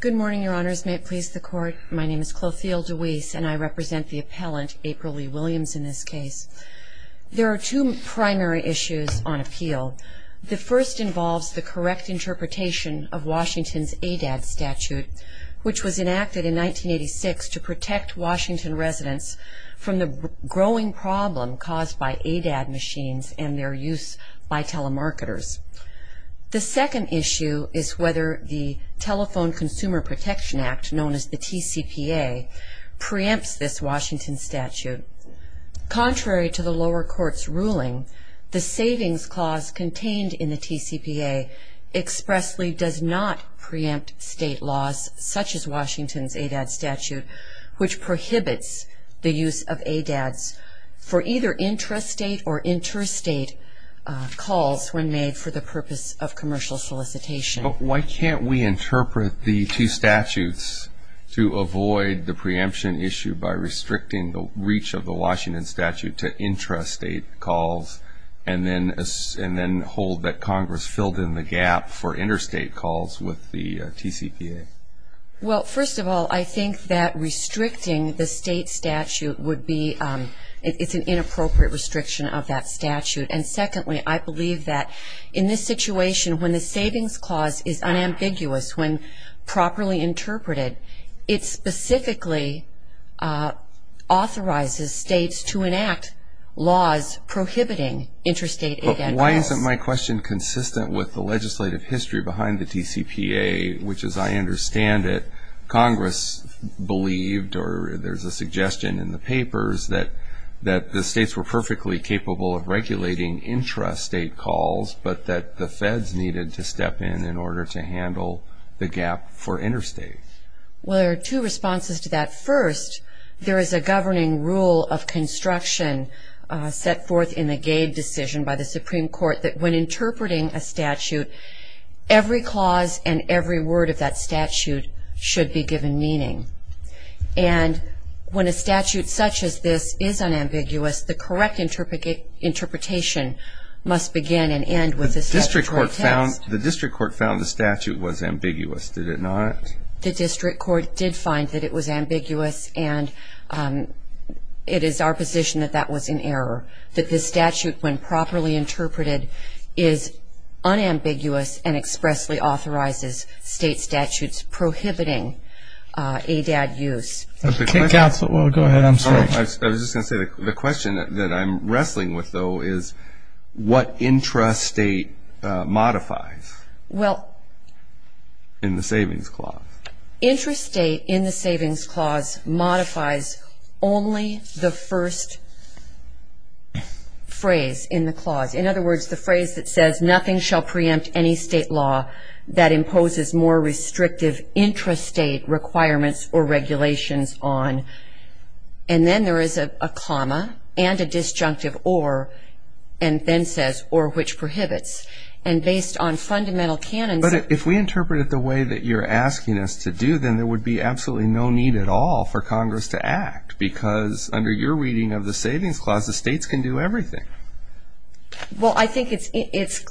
Good morning, Your Honors. May it please the Court, my name is Clothilde DeWeese, and I represent the appellant, April-Lee Williams, in this case. There are two primary issues on appeal. The first involves the correct interpretation of Washington's ADAD statute, which was enacted in 1986 to protect Washington residents from the growing problem caused by ADAD machines and their use by telemarketers. The second issue is whether the Telephone Consumer Protection Act, known as the TCPA, preempts this Washington statute. Contrary to the lower court's ruling, the savings clause contained in the TCPA expressly does not preempt state laws such as Washington's ADAD statute, which prohibits the use of ADADs for either intrastate or interstate calls when made for the purpose of commercial solicitation. But why can't we interpret the two statutes to avoid the preemption issue by restricting the reach of the Washington statute to intrastate calls and then hold that Congress filled in the gap for interstate calls with the TCPA? Well, first of all, I think that restricting the state statute would be, it's an inappropriate restriction of that statute. And secondly, I believe that in this situation, when the savings clause is unambiguous, when properly interpreted, it specifically authorizes states to enact laws prohibiting interstate ADAD calls. Why isn't my question consistent with the legislative history behind the TCPA, which, as I understand it, Congress believed, or there's a suggestion in the papers, that the states were perfectly capable of regulating intrastate calls, but that the feds needed to step in in order to handle the gap for interstate? Well, there are two responses to that. First, there is a governing rule of construction set forth in the Gade decision by the Supreme Court that when interpreting a statute, every clause and every word of that statute should be given meaning. And when a statute such as this is unambiguous, the correct interpretation must begin and end with a statutory text. The district court found the statute was ambiguous, did it not? Correct. The district court did find that it was ambiguous, and it is our position that that was in error, that the statute, when properly interpreted, is unambiguous and expressly authorizes state statutes prohibiting ADAD use. Go ahead, I'm sorry. I was just going to say, the question that I'm wrestling with, though, is what intrastate modifies? Well. In the savings clause. Intrastate in the savings clause modifies only the first phrase in the clause. In other words, the phrase that says, nothing shall preempt any state law that imposes more restrictive intrastate requirements or regulations on. And then there is a comma and a disjunctive or, and then says, or which prohibits. And based on fundamental canons. But if we interpret it the way that you're asking us to do, then there would be absolutely no need at all for Congress to act, because under your reading of the savings clause, the states can do everything. Well, I think it's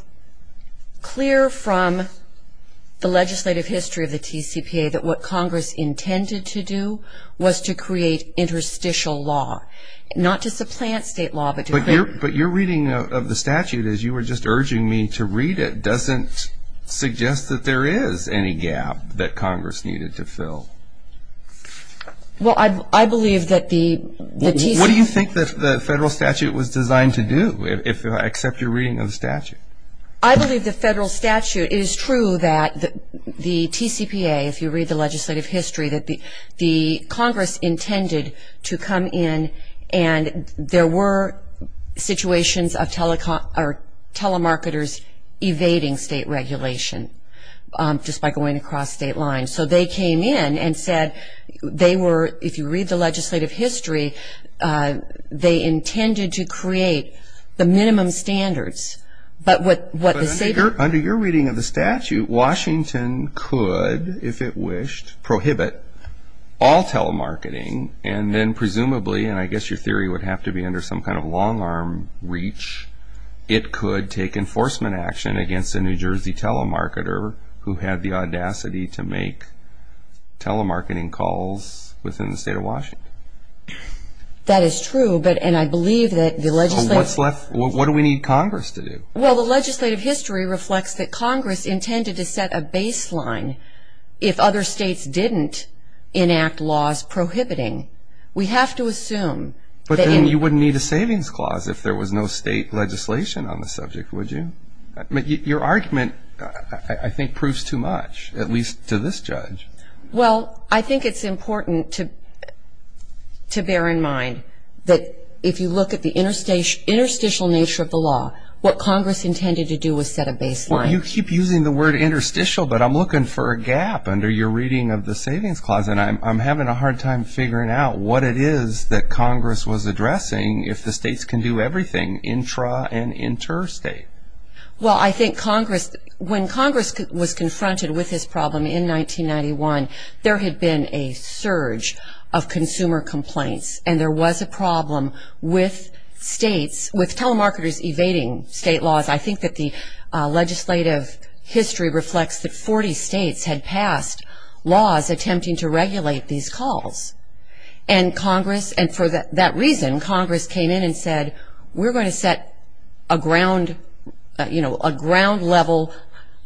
clear from the legislative history of the TCPA that what Congress intended to do was to create interstitial law, not to supplant state law, but to create. But your reading of the statute, as you were just urging me to read it, doesn't suggest that there is any gap that Congress needed to fill. Well, I believe that the TCPA. What do you think the federal statute was designed to do, except your reading of the statute? I believe the federal statute is true that the TCPA, if you read the legislative history, that the Congress intended to come in and there were situations of telemarketers evading state regulation, just by going across state lines. So they came in and said they were, if you read the legislative history, they intended to create the minimum standards. But under your reading of the statute, Washington could, if it wished, prohibit all telemarketing, and then presumably, and I guess your theory would have to be under some kind of long-arm reach, it could take enforcement action against a New Jersey telemarketer who had the audacity to make telemarketing calls within the state of Washington. That is true, and I believe that the legislature What do we need Congress to do? Well, the legislative history reflects that Congress intended to set a baseline if other states didn't enact laws prohibiting. We have to assume that But then you wouldn't need a savings clause if there was no state legislation on the subject, would you? Your argument, I think, proves too much, at least to this judge. Well, I think it's important to bear in mind that if you look at the interstitial nature of the law, what Congress intended to do was set a baseline. Well, you keep using the word interstitial, but I'm looking for a gap under your reading of the savings clause, and I'm having a hard time figuring out what it is that Congress was addressing if the states can do everything intra- and interstate. Well, I think Congress, when Congress was confronted with this problem in 1991, there had been a surge of consumer complaints, and there was a problem with states, with telemarketers evading state laws. I think that the legislative history reflects that 40 states had passed laws attempting to regulate these calls, and Congress, and for that reason, Congress came in and said, we're going to set a ground, you know, a ground level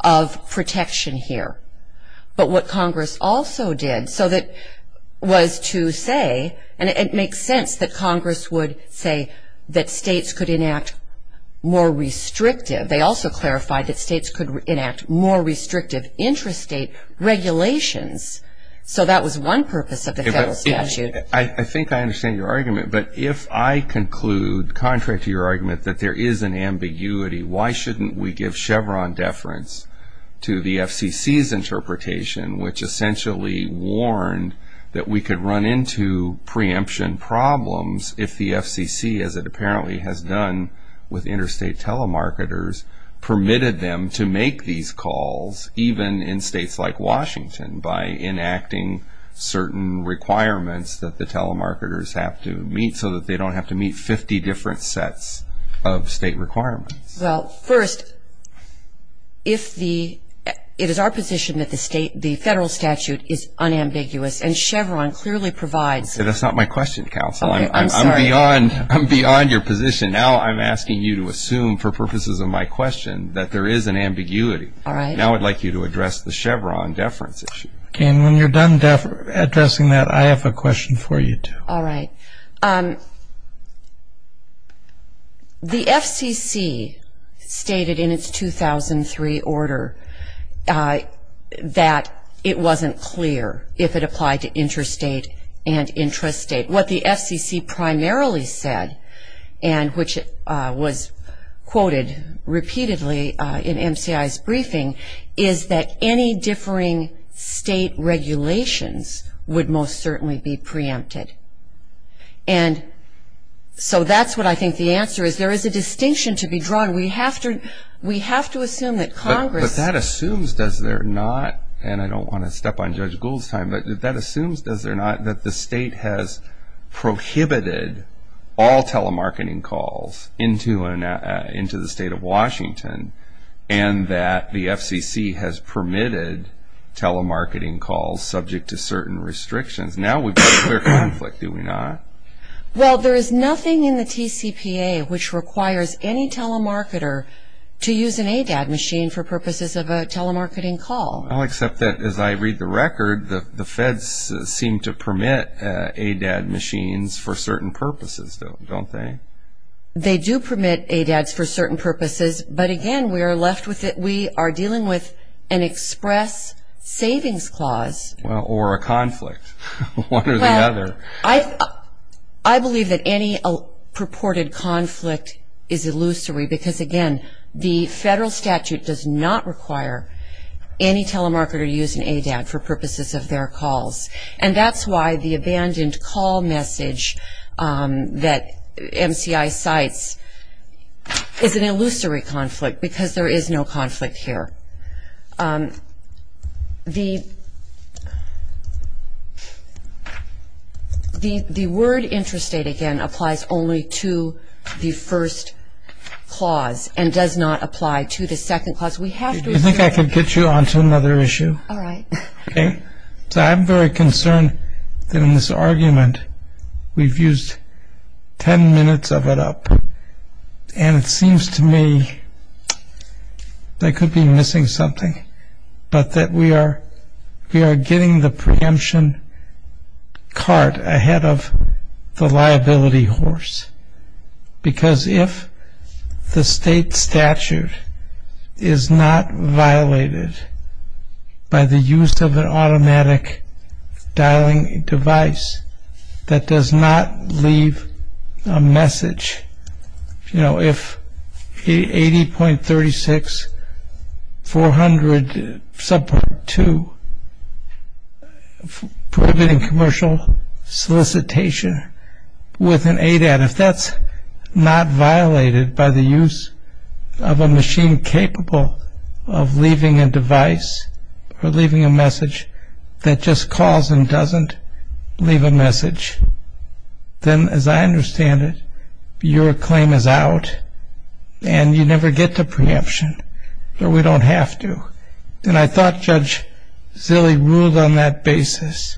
of protection here. But what Congress also did, so that was to say, and it makes sense that Congress would say that states could enact more restrictive. They also clarified that states could enact more restrictive interstate regulations. So that was one purpose of the federal statute. I think I understand your argument, but if I conclude, contrary to your argument, that there is an ambiguity, why shouldn't we give Chevron deference to the FCC's interpretation, which essentially warned that we could run into preemption problems if the FCC, as it apparently has done with interstate telemarketers, permitted them to make these calls, even in states like Washington, by enacting certain requirements that the telemarketers have to meet so that they don't have to meet 50 different sets of state requirements? Well, first, it is our position that the federal statute is unambiguous, and Chevron clearly provides. That's not my question, counsel. I'm beyond your position. Now I'm asking you to assume, for purposes of my question, that there is an ambiguity. All right. Now I'd like you to address the Chevron deference issue. And when you're done addressing that, I have a question for you, too. All right. The FCC stated in its 2003 order that it wasn't clear if it applied to interstate and intrastate. What the FCC primarily said, and which was quoted repeatedly in MCI's briefing, is that any differing state regulations would most certainly be preempted. And so that's what I think the answer is. There is a distinction to be drawn. We have to assume that Congress ---- But that assumes, does there not, and I don't want to step on Judge Gould's time, but that assumes, does there not, that the state has prohibited all telemarketing calls into the state of Washington and that the FCC has permitted telemarketing calls subject to certain restrictions. Now we've got a clear conflict, do we not? Well, there is nothing in the TCPA which requires any telemarketer to use an ADAT machine for purposes of a telemarketing call. Well, except that, as I read the record, the feds seem to permit ADAT machines for certain purposes, don't they? They do permit ADATs for certain purposes. But, again, we are left with it. We are dealing with an express savings clause. Or a conflict, one or the other. I believe that any purported conflict is illusory because, again, the federal statute does not require any telemarketer to use an ADAT for purposes of their calls. And that's why the abandoned call message that MCI cites is an illusory conflict because there is no conflict here. The word interstate, again, applies only to the first clause and does not apply to the second clause. Do you think I could get you onto another issue? All right. Okay. So I'm very concerned that in this argument we've used ten minutes of it up and it seems to me they could be missing something, but that we are getting the preemption cart ahead of the liability horse because if the state statute is not violated by the use of an automatic dialing device that does not leave a message, you know, if 80.36400 subpart 2 prohibiting commercial solicitation with an ADAT, if that's not violated by the use of a machine capable of leaving a device or leaving a message that just calls and doesn't leave a message, then as I understand it, your claim is out and you never get the preemption. So we don't have to. And I thought Judge Zille ruled on that basis.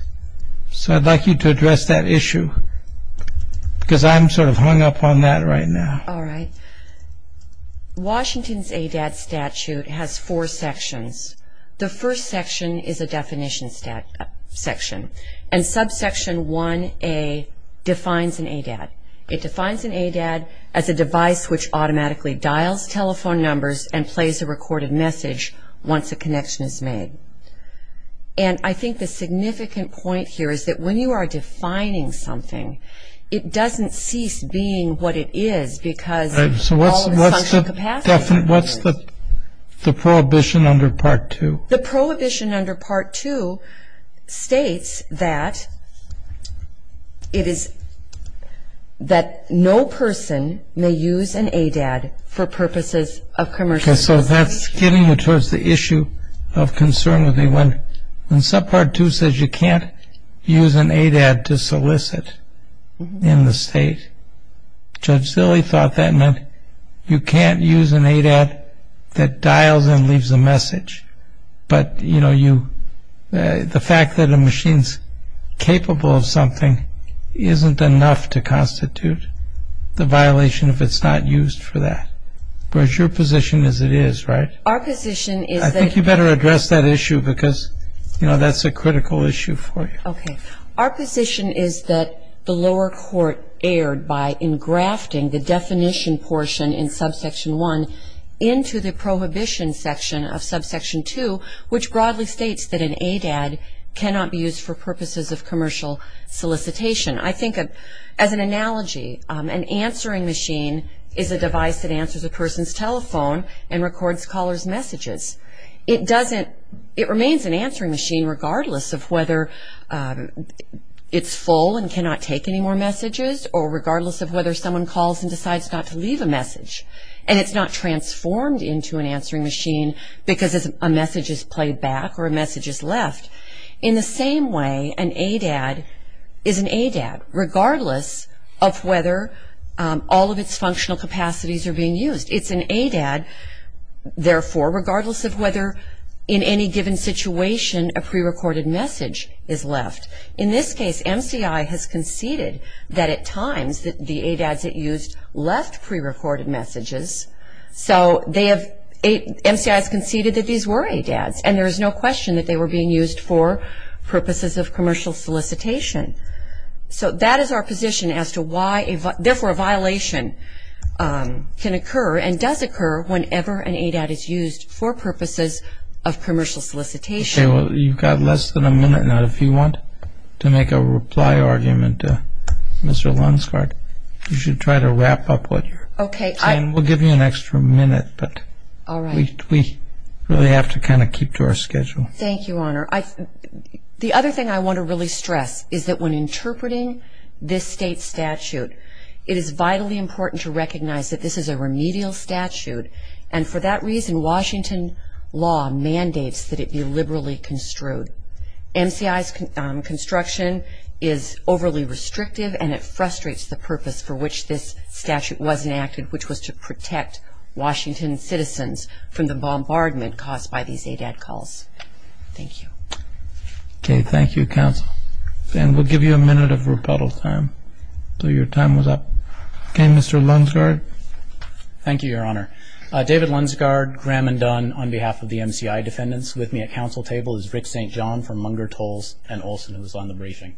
So I'd like you to address that issue because I'm sort of hung up on that right now. All right. Washington's ADAT statute has four sections. The first section is a definition section, and subsection 1A defines an ADAT. It defines an ADAT as a device which automatically dials telephone numbers and plays a recorded message once a connection is made. And I think the significant point here is that when you are defining something, it doesn't cease being what it is because all of the functional capacity. So what's the prohibition under Part 2? The prohibition under Part 2 states that it is that no person may use an ADAT for purposes of commercial solicitation. Okay, so that's getting you towards the issue of concern with me. When subpart 2 says you can't use an ADAT to solicit in the state, Judge Zille thought that meant you can't use an ADAT that dials and leaves a message. But the fact that a machine's capable of something isn't enough to constitute the violation if it's not used for that. Whereas your position is it is, right? I think you better address that issue because, you know, that's a critical issue for you. Okay. Our position is that the lower court erred by engrafting the definition portion in subsection 1 into the prohibition section of subsection 2, which broadly states that an ADAT cannot be used for purposes of commercial solicitation. I think as an analogy, an answering machine is a device that answers a person's telephone and records caller's messages. It remains an answering machine regardless of whether it's full and cannot take any more messages or regardless of whether someone calls and decides not to leave a message. And it's not transformed into an answering machine because a message is played back or a message is left. In the same way, an ADAT is an ADAT regardless of whether all of its functional capacities are being used. It's an ADAT, therefore, regardless of whether in any given situation a prerecorded message is left. In this case, MCI has conceded that at times the ADATs it used left prerecorded messages. So MCI has conceded that these were ADATs, and there is no question that they were being used for purposes of commercial solicitation. So that is our position as to why, therefore, a violation can occur and does occur whenever an ADAT is used for purposes of commercial solicitation. Okay. Well, you've got less than a minute now. If you want to make a reply argument to Mr. Lunsgard, you should try to wrap up what you're saying. Okay. We'll give you an extra minute, but we really have to kind of keep to our schedule. Thank you, Your Honor. The other thing I want to really stress is that when interpreting this state statute, it is vitally important to recognize that this is a remedial statute, and for that reason Washington law mandates that it be liberally construed. MCI's construction is overly restrictive, and it frustrates the purpose for which this statute was enacted, which was to protect Washington citizens from the bombardment caused by these ADAT calls. Thank you. Okay. Thank you, counsel. And we'll give you a minute of rebuttal time. So your time was up. Okay. Mr. Lunsgard. Thank you, Your Honor. David Lunsgard, Graham and Dunn, on behalf of the MCI defendants. With me at counsel table is Rick St. John from Munger Tolls and Olson, who was on the briefing.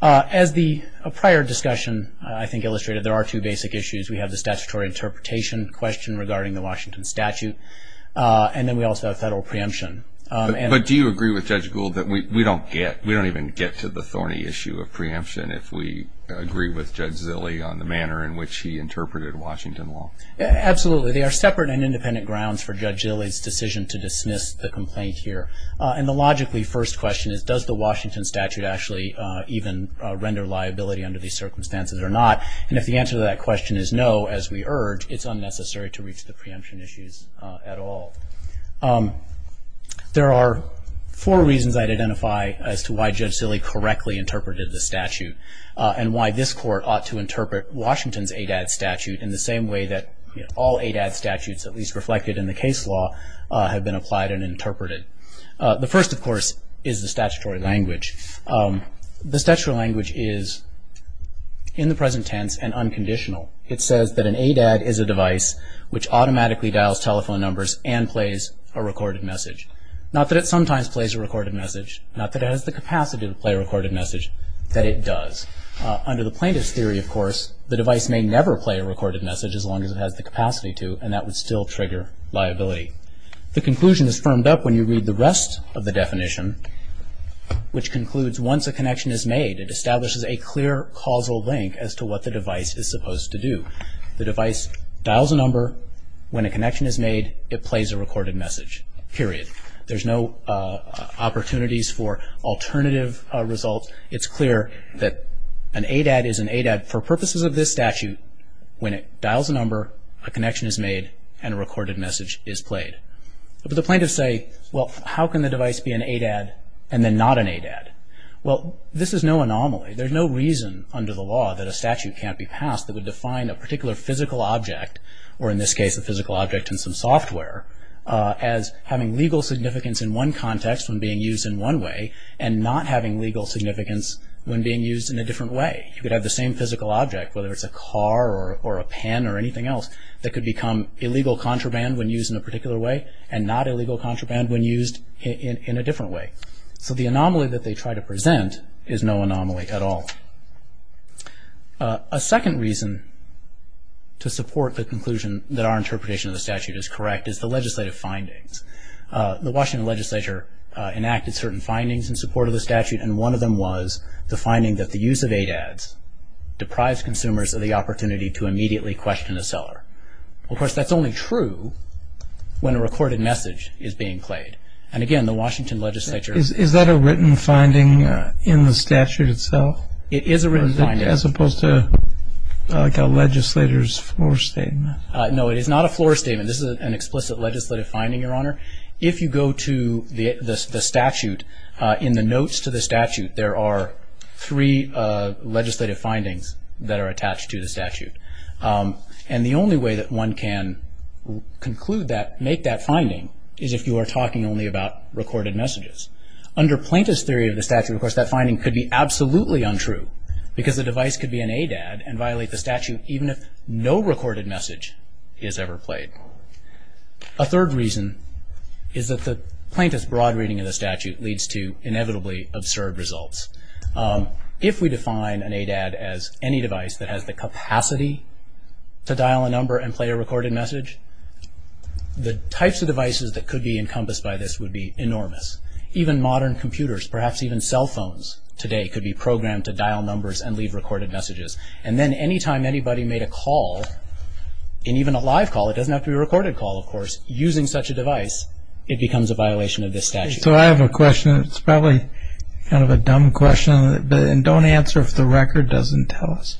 As the prior discussion, I think, illustrated, there are two basic issues. We have the statutory interpretation question regarding the Washington statute, and then we also have federal preemption. But do you agree with Judge Gould that we don't even get to the thorny issue of preemption if we agree with Judge Zille on the manner in which he interpreted Washington law? Absolutely. They are separate and independent grounds for Judge Zille's decision to dismiss the complaint here. And the logically first question is, does the Washington statute actually even render liability under these circumstances or not? And if the answer to that question is no, as we urge, it's unnecessary to reach the preemption issues at all. There are four reasons I'd identify as to why Judge Zille correctly interpreted the statute and why this Court ought to interpret Washington's ADAD statute in the same way that all ADAD statutes, at least reflected in the case law, have been applied and interpreted. The first, of course, is the statutory language. The statutory language is, in the present tense, an unconditional. It says that an ADAD is a device which automatically dials telephone numbers and plays a recorded message. Not that it sometimes plays a recorded message. Not that it has the capacity to play a recorded message. That it does. Under the plaintiff's theory, of course, the device may never play a recorded message as long as it has the capacity to, and that would still trigger liability. The conclusion is firmed up when you read the rest of the definition, which concludes, once a connection is made, it establishes a clear causal link as to what the device is supposed to do. The device dials a number. When a connection is made, it plays a recorded message. Period. There's no opportunities for alternative results. It's clear that an ADAD is an ADAD for purposes of this statute. When it dials a number, a connection is made, and a recorded message is played. But the plaintiffs say, well, how can the device be an ADAD and then not an ADAD? Well, this is no anomaly. There's no reason under the law that a statute can't be passed that would define a particular physical object, or in this case a physical object in some software, as having legal significance in one context when being used in one way and not having legal significance when being used in a different way. You could have the same physical object, whether it's a car or a pen or anything else, that could become illegal contraband when used in a particular way and not illegal contraband when used in a different way. So the anomaly that they try to present is no anomaly at all. A second reason to support the conclusion that our interpretation of the statute is correct is the legislative findings. The Washington legislature enacted certain findings in support of the statute, and one of them was the finding that the use of ADADs deprives consumers of the opportunity to immediately question a seller. Of course, that's only true when a recorded message is being played. And again, the Washington legislature... Is that a written finding in the statute itself? It is a written finding. As opposed to like a legislator's floor statement? No, it is not a floor statement. This is an explicit legislative finding, Your Honor. If you go to the statute, in the notes to the statute, there are three legislative findings that are attached to the statute. And the only way that one can conclude that, make that finding, is if you are talking only about recorded messages. Under plaintiff's theory of the statute, of course, that finding could be absolutely untrue because the device could be an ADAD and violate the statute even if no recorded message is ever played. A third reason is that the plaintiff's broad reading of the statute leads to inevitably absurd results. If we define an ADAD as any device that has the capacity to dial a number and play a recorded message, the types of devices that could be encompassed by this would be enormous. Even modern computers, perhaps even cell phones today, could be programmed to dial numbers and leave recorded messages. And then any time anybody made a call, and even a live call, it doesn't have to be a recorded call, of course, using such a device, it becomes a violation of this statute. So I have a question. It's probably kind of a dumb question, and don't answer if the record doesn't tell us.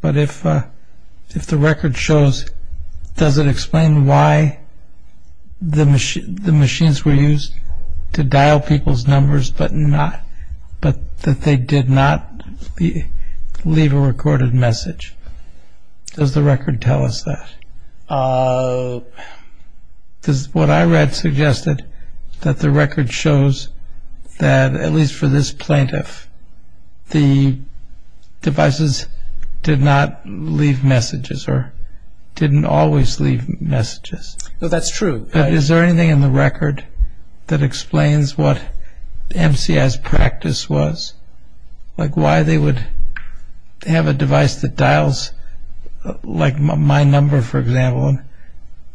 But if the record shows, does it explain why the machines were used to dial people's numbers but that they did not leave a recorded message? Does the record tell us that? What I read suggested that the record shows that, at least for this plaintiff, the devices did not leave messages or didn't always leave messages. That's true. But is there anything in the record that explains what MCI's practice was? Like why they would have a device that dials, like my number, for example,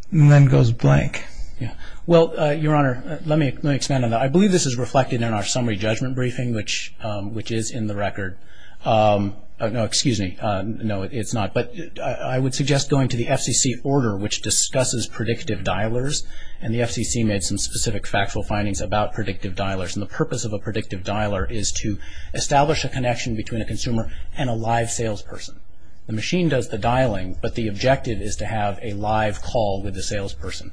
and then goes blank? Well, Your Honor, let me expand on that. I believe this is reflected in our summary judgment briefing, which is in the record. No, excuse me. No, it's not. But I would suggest going to the FCC order, which discusses predictive dialers, and the FCC made some specific factual findings about predictive dialers. The purpose of a predictive dialer is to establish a connection between a consumer and a live salesperson. The machine does the dialing, but the objective is to have a live call with the salesperson.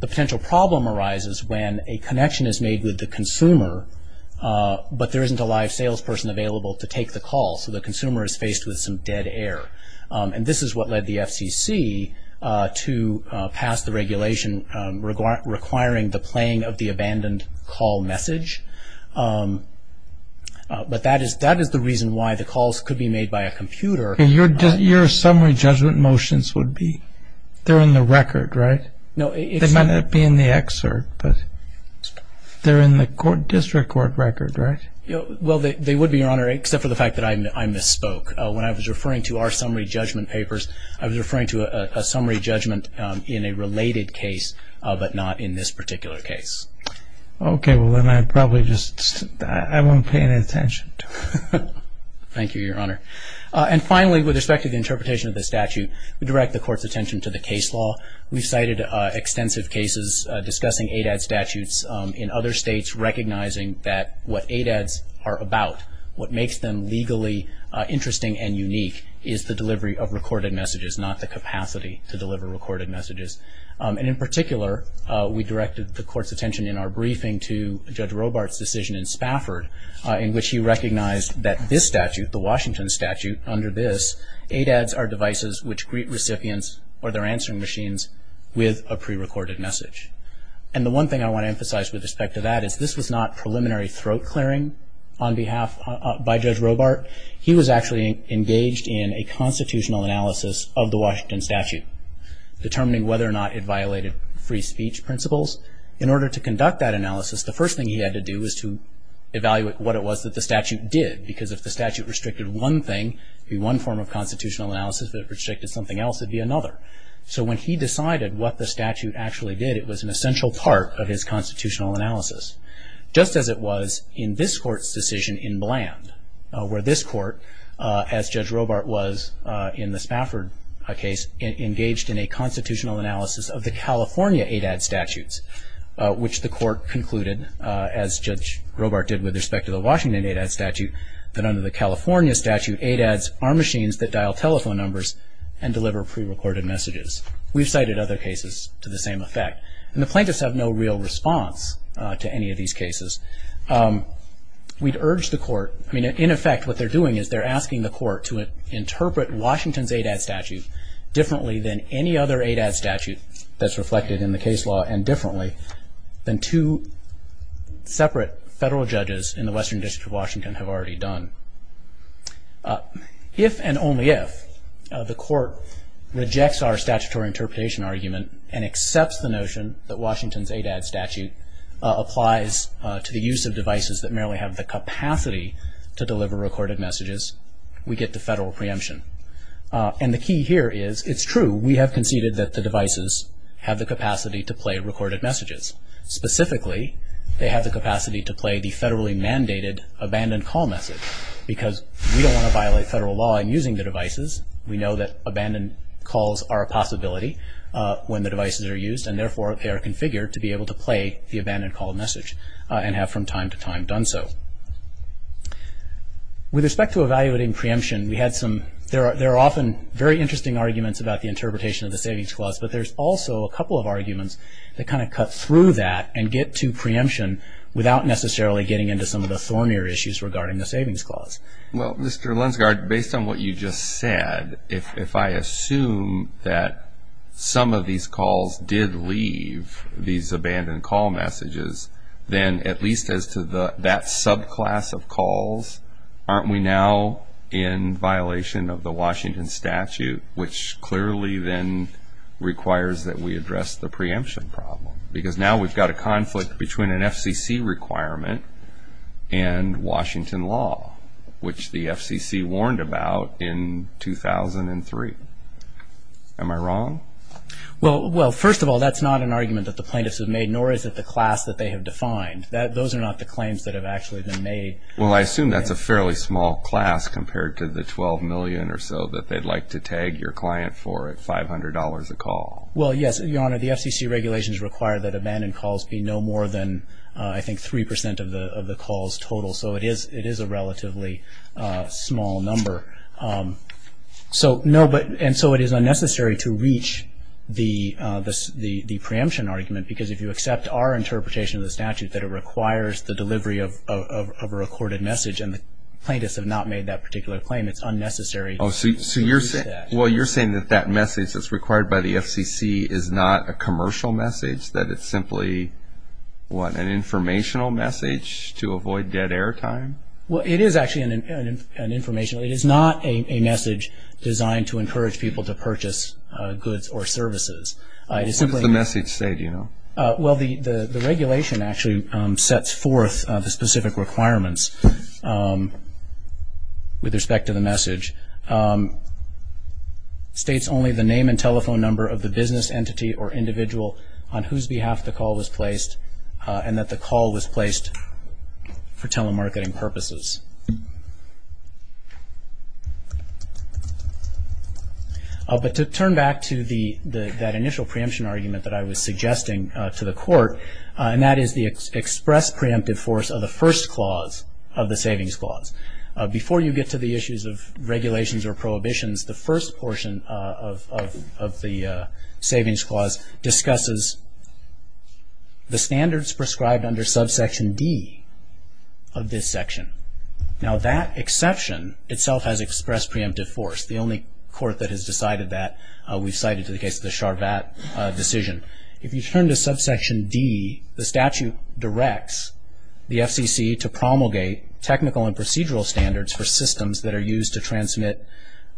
The potential problem arises when a connection is made with the consumer, but there isn't a live salesperson available to take the call, so the consumer is faced with some dead air. And this is what led the FCC to pass the regulation requiring the playing of the abandoned call message. But that is the reason why the calls could be made by a computer. Your summary judgment motions would be? They're in the record, right? No. They might not be in the excerpt, but they're in the district court record, right? Well, they would be, Your Honor, except for the fact that I misspoke. When I was referring to our summary judgment papers, I was referring to a summary judgment in a related case, but not in this particular case. Okay. Well, then I probably just won't pay any attention to it. Thank you, Your Honor. And finally, with respect to the interpretation of the statute, we direct the Court's attention to the case law. We've cited extensive cases discussing ADAD statutes in other states, recognizing that what ADADs are about, what makes them legally interesting and unique, is the delivery of recorded messages, not the capacity to deliver recorded messages. And in particular, we directed the Court's attention in our briefing to Judge Robart's decision in Spafford, in which he recognized that this statute, the Washington statute, under this, ADADs are devices which greet recipients or their answering machines with a prerecorded message. And the one thing I want to emphasize with respect to that is this was not preliminary throat clearing on behalf by Judge Robart. He was actually engaged in a constitutional analysis of the Washington statute, determining whether or not it violated free speech principles. In order to conduct that analysis, the first thing he had to do was to evaluate what it was that the statute did, because if the statute restricted one thing, it would be one form of constitutional analysis. If it restricted something else, it would be another. So when he decided what the statute actually did, it was an essential part of his constitutional analysis. Just as it was in this Court's decision in Bland, where this Court, as Judge Robart was in the Spafford case, engaged in a constitutional analysis of the California ADAD statutes, which the Court concluded, as Judge Robart did with respect to the Washington ADAD statute, that under the California statute, ADADs are machines that dial telephone numbers and deliver prerecorded messages. We've cited other cases to the same effect. And the plaintiffs have no real response to any of these cases. We'd urge the Court, I mean, in effect, what they're doing is they're asking the Court to interpret Washington's ADAD statute differently than any other ADAD statute that's reflected in the case law, and differently than two separate federal judges in the Western District of Washington have already done. If and only if the Court rejects our statutory interpretation argument and accepts the notion that Washington's ADAD statute applies to the use of devices that merely have the capacity to deliver recorded messages, we get the federal preemption. And the key here is, it's true, we have conceded that the devices have the capacity to play recorded messages. Specifically, they have the capacity to play the federally mandated abandoned call message, because we don't want to violate federal law in using the devices. We know that abandoned calls are a possibility when the devices are used, and therefore they are configured to be able to play the abandoned call message, and have from time to time done so. With respect to evaluating preemption, we had some, there are often very interesting arguments about the interpretation of the Savings Clause, but there's also a couple of arguments that kind of cut through that and get to preemption without necessarily getting into some of the thornier issues regarding the Savings Clause. Well, Mr. Lensgard, based on what you just said, if I assume that some of these calls did leave these abandoned call messages, then at least as to that subclass of calls, aren't we now in violation of the Washington statute, which clearly then requires that we address the preemption problem? Because now we've got a conflict between an FCC requirement and Washington law, which the FCC warned about in 2003. Am I wrong? Well, first of all, that's not an argument that the plaintiffs have made, nor is it the class that they have defined. Those are not the claims that have actually been made. Well, I assume that's a fairly small class compared to the 12 million or so that they'd like to tag your client for at $500 a call. Well, yes, Your Honor, the FCC regulations require that abandoned calls be no more than I think 3% of the calls total, so it is a relatively small number. And so it is unnecessary to reach the preemption argument, because if you accept our interpretation of the statute, that it requires the delivery of a recorded message and the plaintiffs have not made that particular claim, it's unnecessary. So you're saying that that message that's required by the FCC is not a commercial message, that it's simply an informational message to avoid dead air time? Well, it is actually an informational message. It is not a message designed to encourage people to purchase goods or services. What does the message say, do you know? Well, the regulation actually sets forth the specific requirements with respect to the message. It states only the name and telephone number of the business entity or individual on whose behalf the call was placed and that the call was placed for telemarketing purposes. But to turn back to that initial preemption argument that I was suggesting to the Court, and that is the express preemptive force of the first clause of the Savings Clause. Before you get to the issues of regulations or prohibitions, the first portion of the Savings Clause discusses the standards prescribed under subsection D of this section. Now, that exception itself has expressed preemptive force. The only court that has decided that, we've cited to the case of the Charvat decision. If you turn to subsection D, the statute directs the FCC to promulgate technical and procedural standards for systems that are used to transmit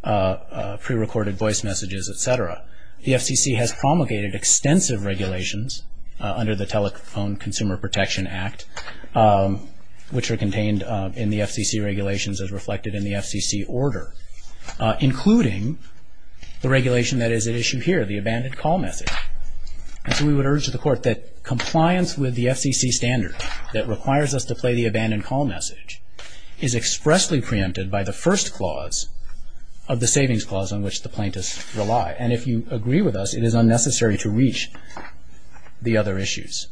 prerecorded voice messages, et cetera. The FCC has promulgated extensive regulations under the Telephone Consumer Protection Act, which are contained in the FCC regulations as reflected in the FCC order, including the regulation that is at issue here, the abandoned call message. And so we would urge the Court that compliance with the FCC standard that requires us to play the abandoned call message is expressly preempted by the first clause of the Savings Clause on which the plaintiffs rely. And if you agree with us, it is unnecessary to reach the other issues.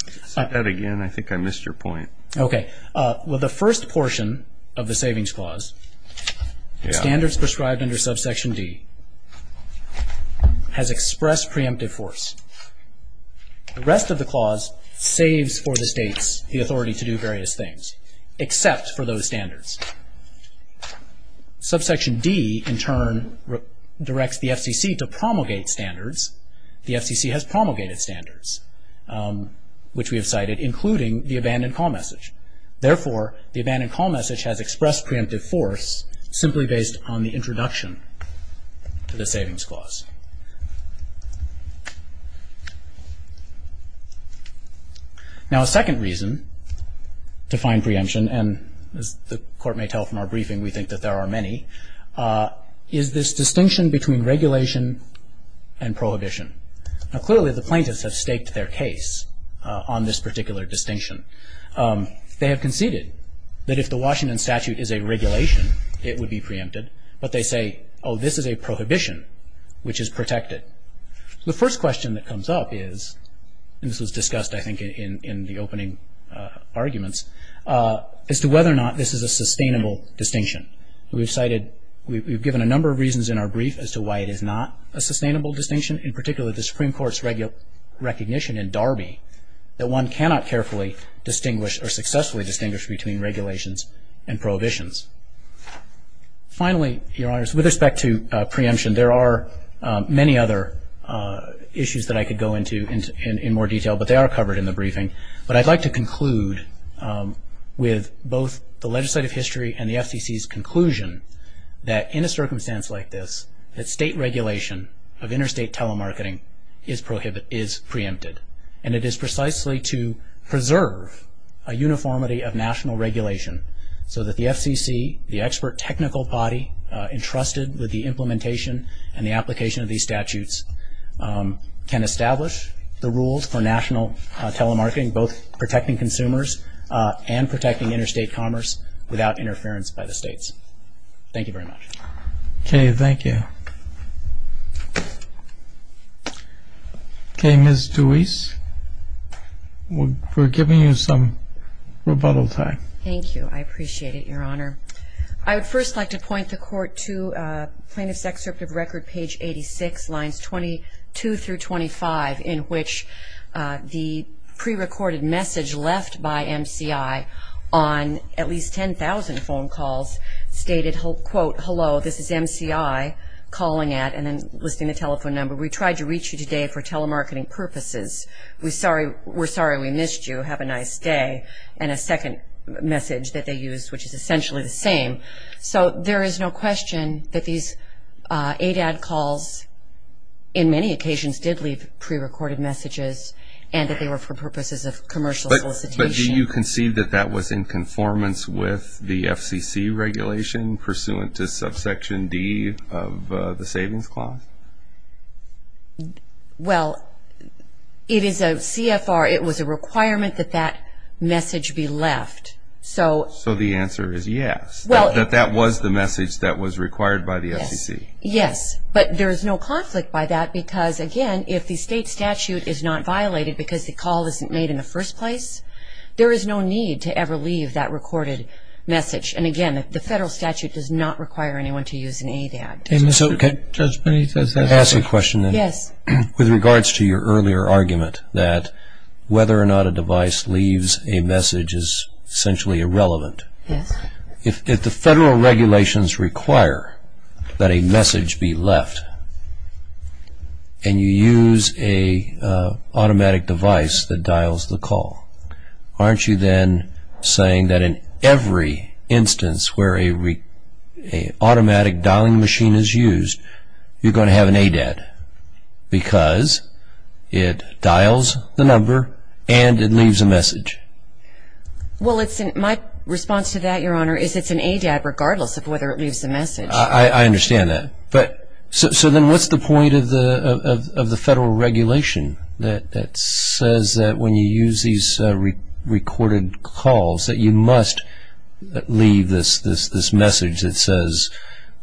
I said that again. I think I missed your point. Okay. Well, the first portion of the Savings Clause, standards prescribed under subsection D, has expressed preemptive force. The rest of the clause saves for the states the authority to do various things, except for those standards. Subsection D, in turn, directs the FCC to promulgate standards. The FCC has promulgated standards, which we have cited, including the abandoned call message. Therefore, the abandoned call message has expressed preemptive force simply based on the introduction to the Savings Clause. Now, a second reason to find preemption, and as the Court may tell from our briefing we think that there are many, is this distinction between regulation and prohibition. Now, clearly the plaintiffs have staked their case on this particular distinction. They have conceded that if the Washington statute is a regulation, it would be preempted, but they say, oh, this is a prohibition, which is protected. The first question that comes up is, and this was discussed, I think, in the opening arguments, as to whether or not this is a sustainable distinction. We've cited, we've given a number of reasons in our brief as to why it is not a sustainable distinction, in particular the Supreme Court's recognition in Darby that one cannot carefully distinguish or successfully distinguish between regulations and prohibitions. Finally, Your Honors, with respect to preemption, there are many other issues that I could go into in more detail, but they are covered in the briefing. But I'd like to conclude with both the legislative history and the FCC's conclusion that in a circumstance like this, that state regulation of interstate telemarketing is preempted, and it is precisely to preserve a uniformity of national regulation so that the FCC, the expert technical body entrusted with the implementation and the application of these statutes, can establish the rules for national telemarketing, both protecting consumers and protecting interstate commerce without interference by the states. Thank you very much. Okay, thank you. Okay, Ms. Deweese, we're giving you some rebuttal time. Thank you. I appreciate it, Your Honor. I would first like to point the Court to Plaintiff's Excerpt of Record, page 86, lines 22 through 25, in which the prerecorded message left by MCI on at least 10,000 phone calls stated, quote, Hello, this is MCI calling at and then listing the telephone number. We tried to reach you today for telemarketing purposes. We're sorry we missed you. Have a nice day. And a second message that they used, which is essentially the same. So there is no question that these ADAD calls in many occasions did leave prerecorded messages and that they were for purposes of commercial solicitation. But do you concede that that was in conformance with the FCC regulation pursuant to subsection D of the Savings Clause? Well, it is a CFR. It was a requirement that that message be left. So the answer is yes, that that was the message that was required by the FCC. Yes. But there is no conflict by that because, again, if the state statute is not violated because the call isn't made in the first place, there is no need to ever leave that recorded message. And, again, the federal statute does not require anyone to use an ADAD. So can I ask a question then? Yes. With regards to your earlier argument that whether or not a device leaves a message is essentially irrelevant. Yes. If the federal regulations require that a message be left and you use an automatic device that dials the call, aren't you then saying that in every instance where an automatic dialing machine is used, you're going to have an ADAD because it dials the number and it leaves a message? Well, my response to that, Your Honor, is it's an ADAD regardless of whether it leaves a message. I understand that. So then what's the point of the federal regulation that says that when you use these recorded calls that you must leave this message that says,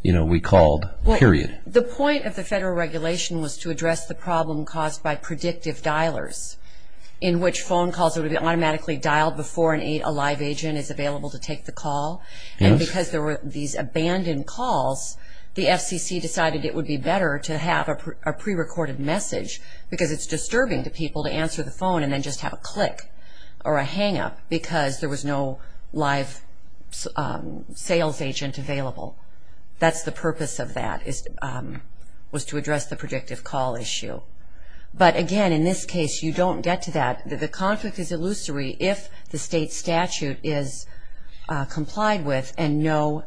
you know, we called, period? The point of the federal regulation was to address the problem caused by predictive dialers in which phone calls would be automatically dialed before a live agent is available to take the call. And because there were these abandoned calls, the FCC decided it would be better to have a prerecorded message because it's disturbing to people to answer the phone and then just have a click or a hang-up because there was no live sales agent available. That's the purpose of that, was to address the predictive call issue. But again, in this case, you don't get to that. The conflict is illusory if the state statute is complied with and no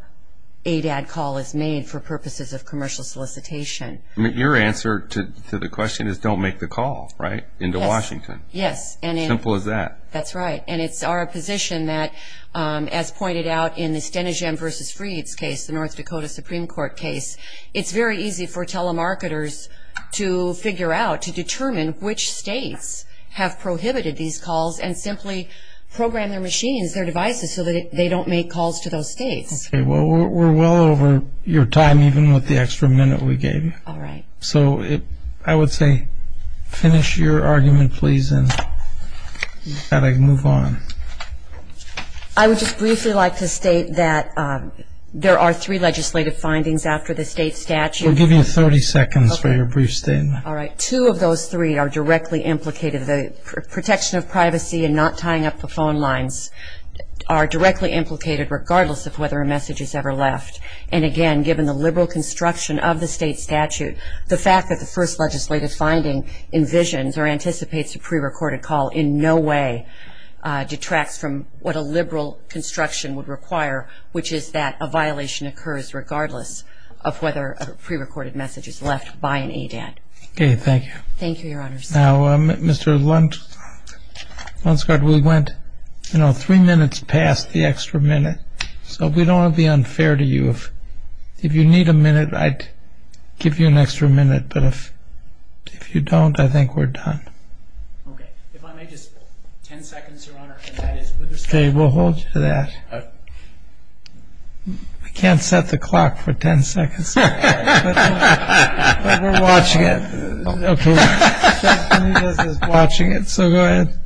ADAD call is made for purposes of commercial solicitation. Your answer to the question is don't make the call, right, into Washington. Yes. Simple as that. That's right. And it's our position that, as pointed out in the Stenehjem v. Freed's case, the North Dakota Supreme Court case, it's very easy for telemarketers to figure out, to determine which states have prohibited these calls and simply program their machines, their devices, so that they don't make calls to those states. Okay. Well, we're well over your time, even with the extra minute we gave you. All right. So I would say finish your argument, please, and I'd like to move on. I would just briefly like to state that there are three legislative findings after the state statute. We'll give you 30 seconds for your brief statement. All right. Two of those three are directly implicated. The protection of privacy and not tying up the phone lines are directly implicated, regardless of whether a message is ever left. And, again, given the liberal construction of the state statute, the fact that the first legislative finding envisions or anticipates a prerecorded call in no way detracts from what a liberal construction would require, which is that a violation occurs regardless of whether a prerecorded message is left by an ADAT. Okay. Thank you. Thank you, Your Honors. Now, Mr. Lunsgard, we went, you know, three minutes past the extra minute. So we don't want to be unfair to you. If you need a minute, I'd give you an extra minute. But if you don't, I think we're done. Okay. If I may, just 10 seconds, Your Honor, and that is with respect to the state statute. I can't set the clock for 10 seconds. But we're watching it. Okay. So go ahead.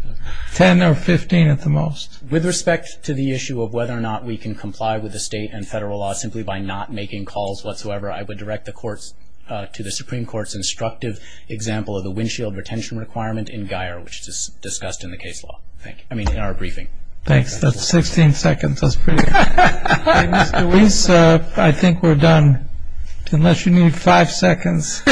Ten or 15 at the most. With respect to the issue of whether or not we can comply with the state and federal laws simply by not making calls whatsoever, I would direct the courts to the Supreme Court's instructive example of the windshield retention requirement in Geier, which is discussed in the case law. I mean, in our briefing. Thanks. That's 16 seconds. That's pretty good. Mr. Weiss, I think we're done. Unless you need five seconds.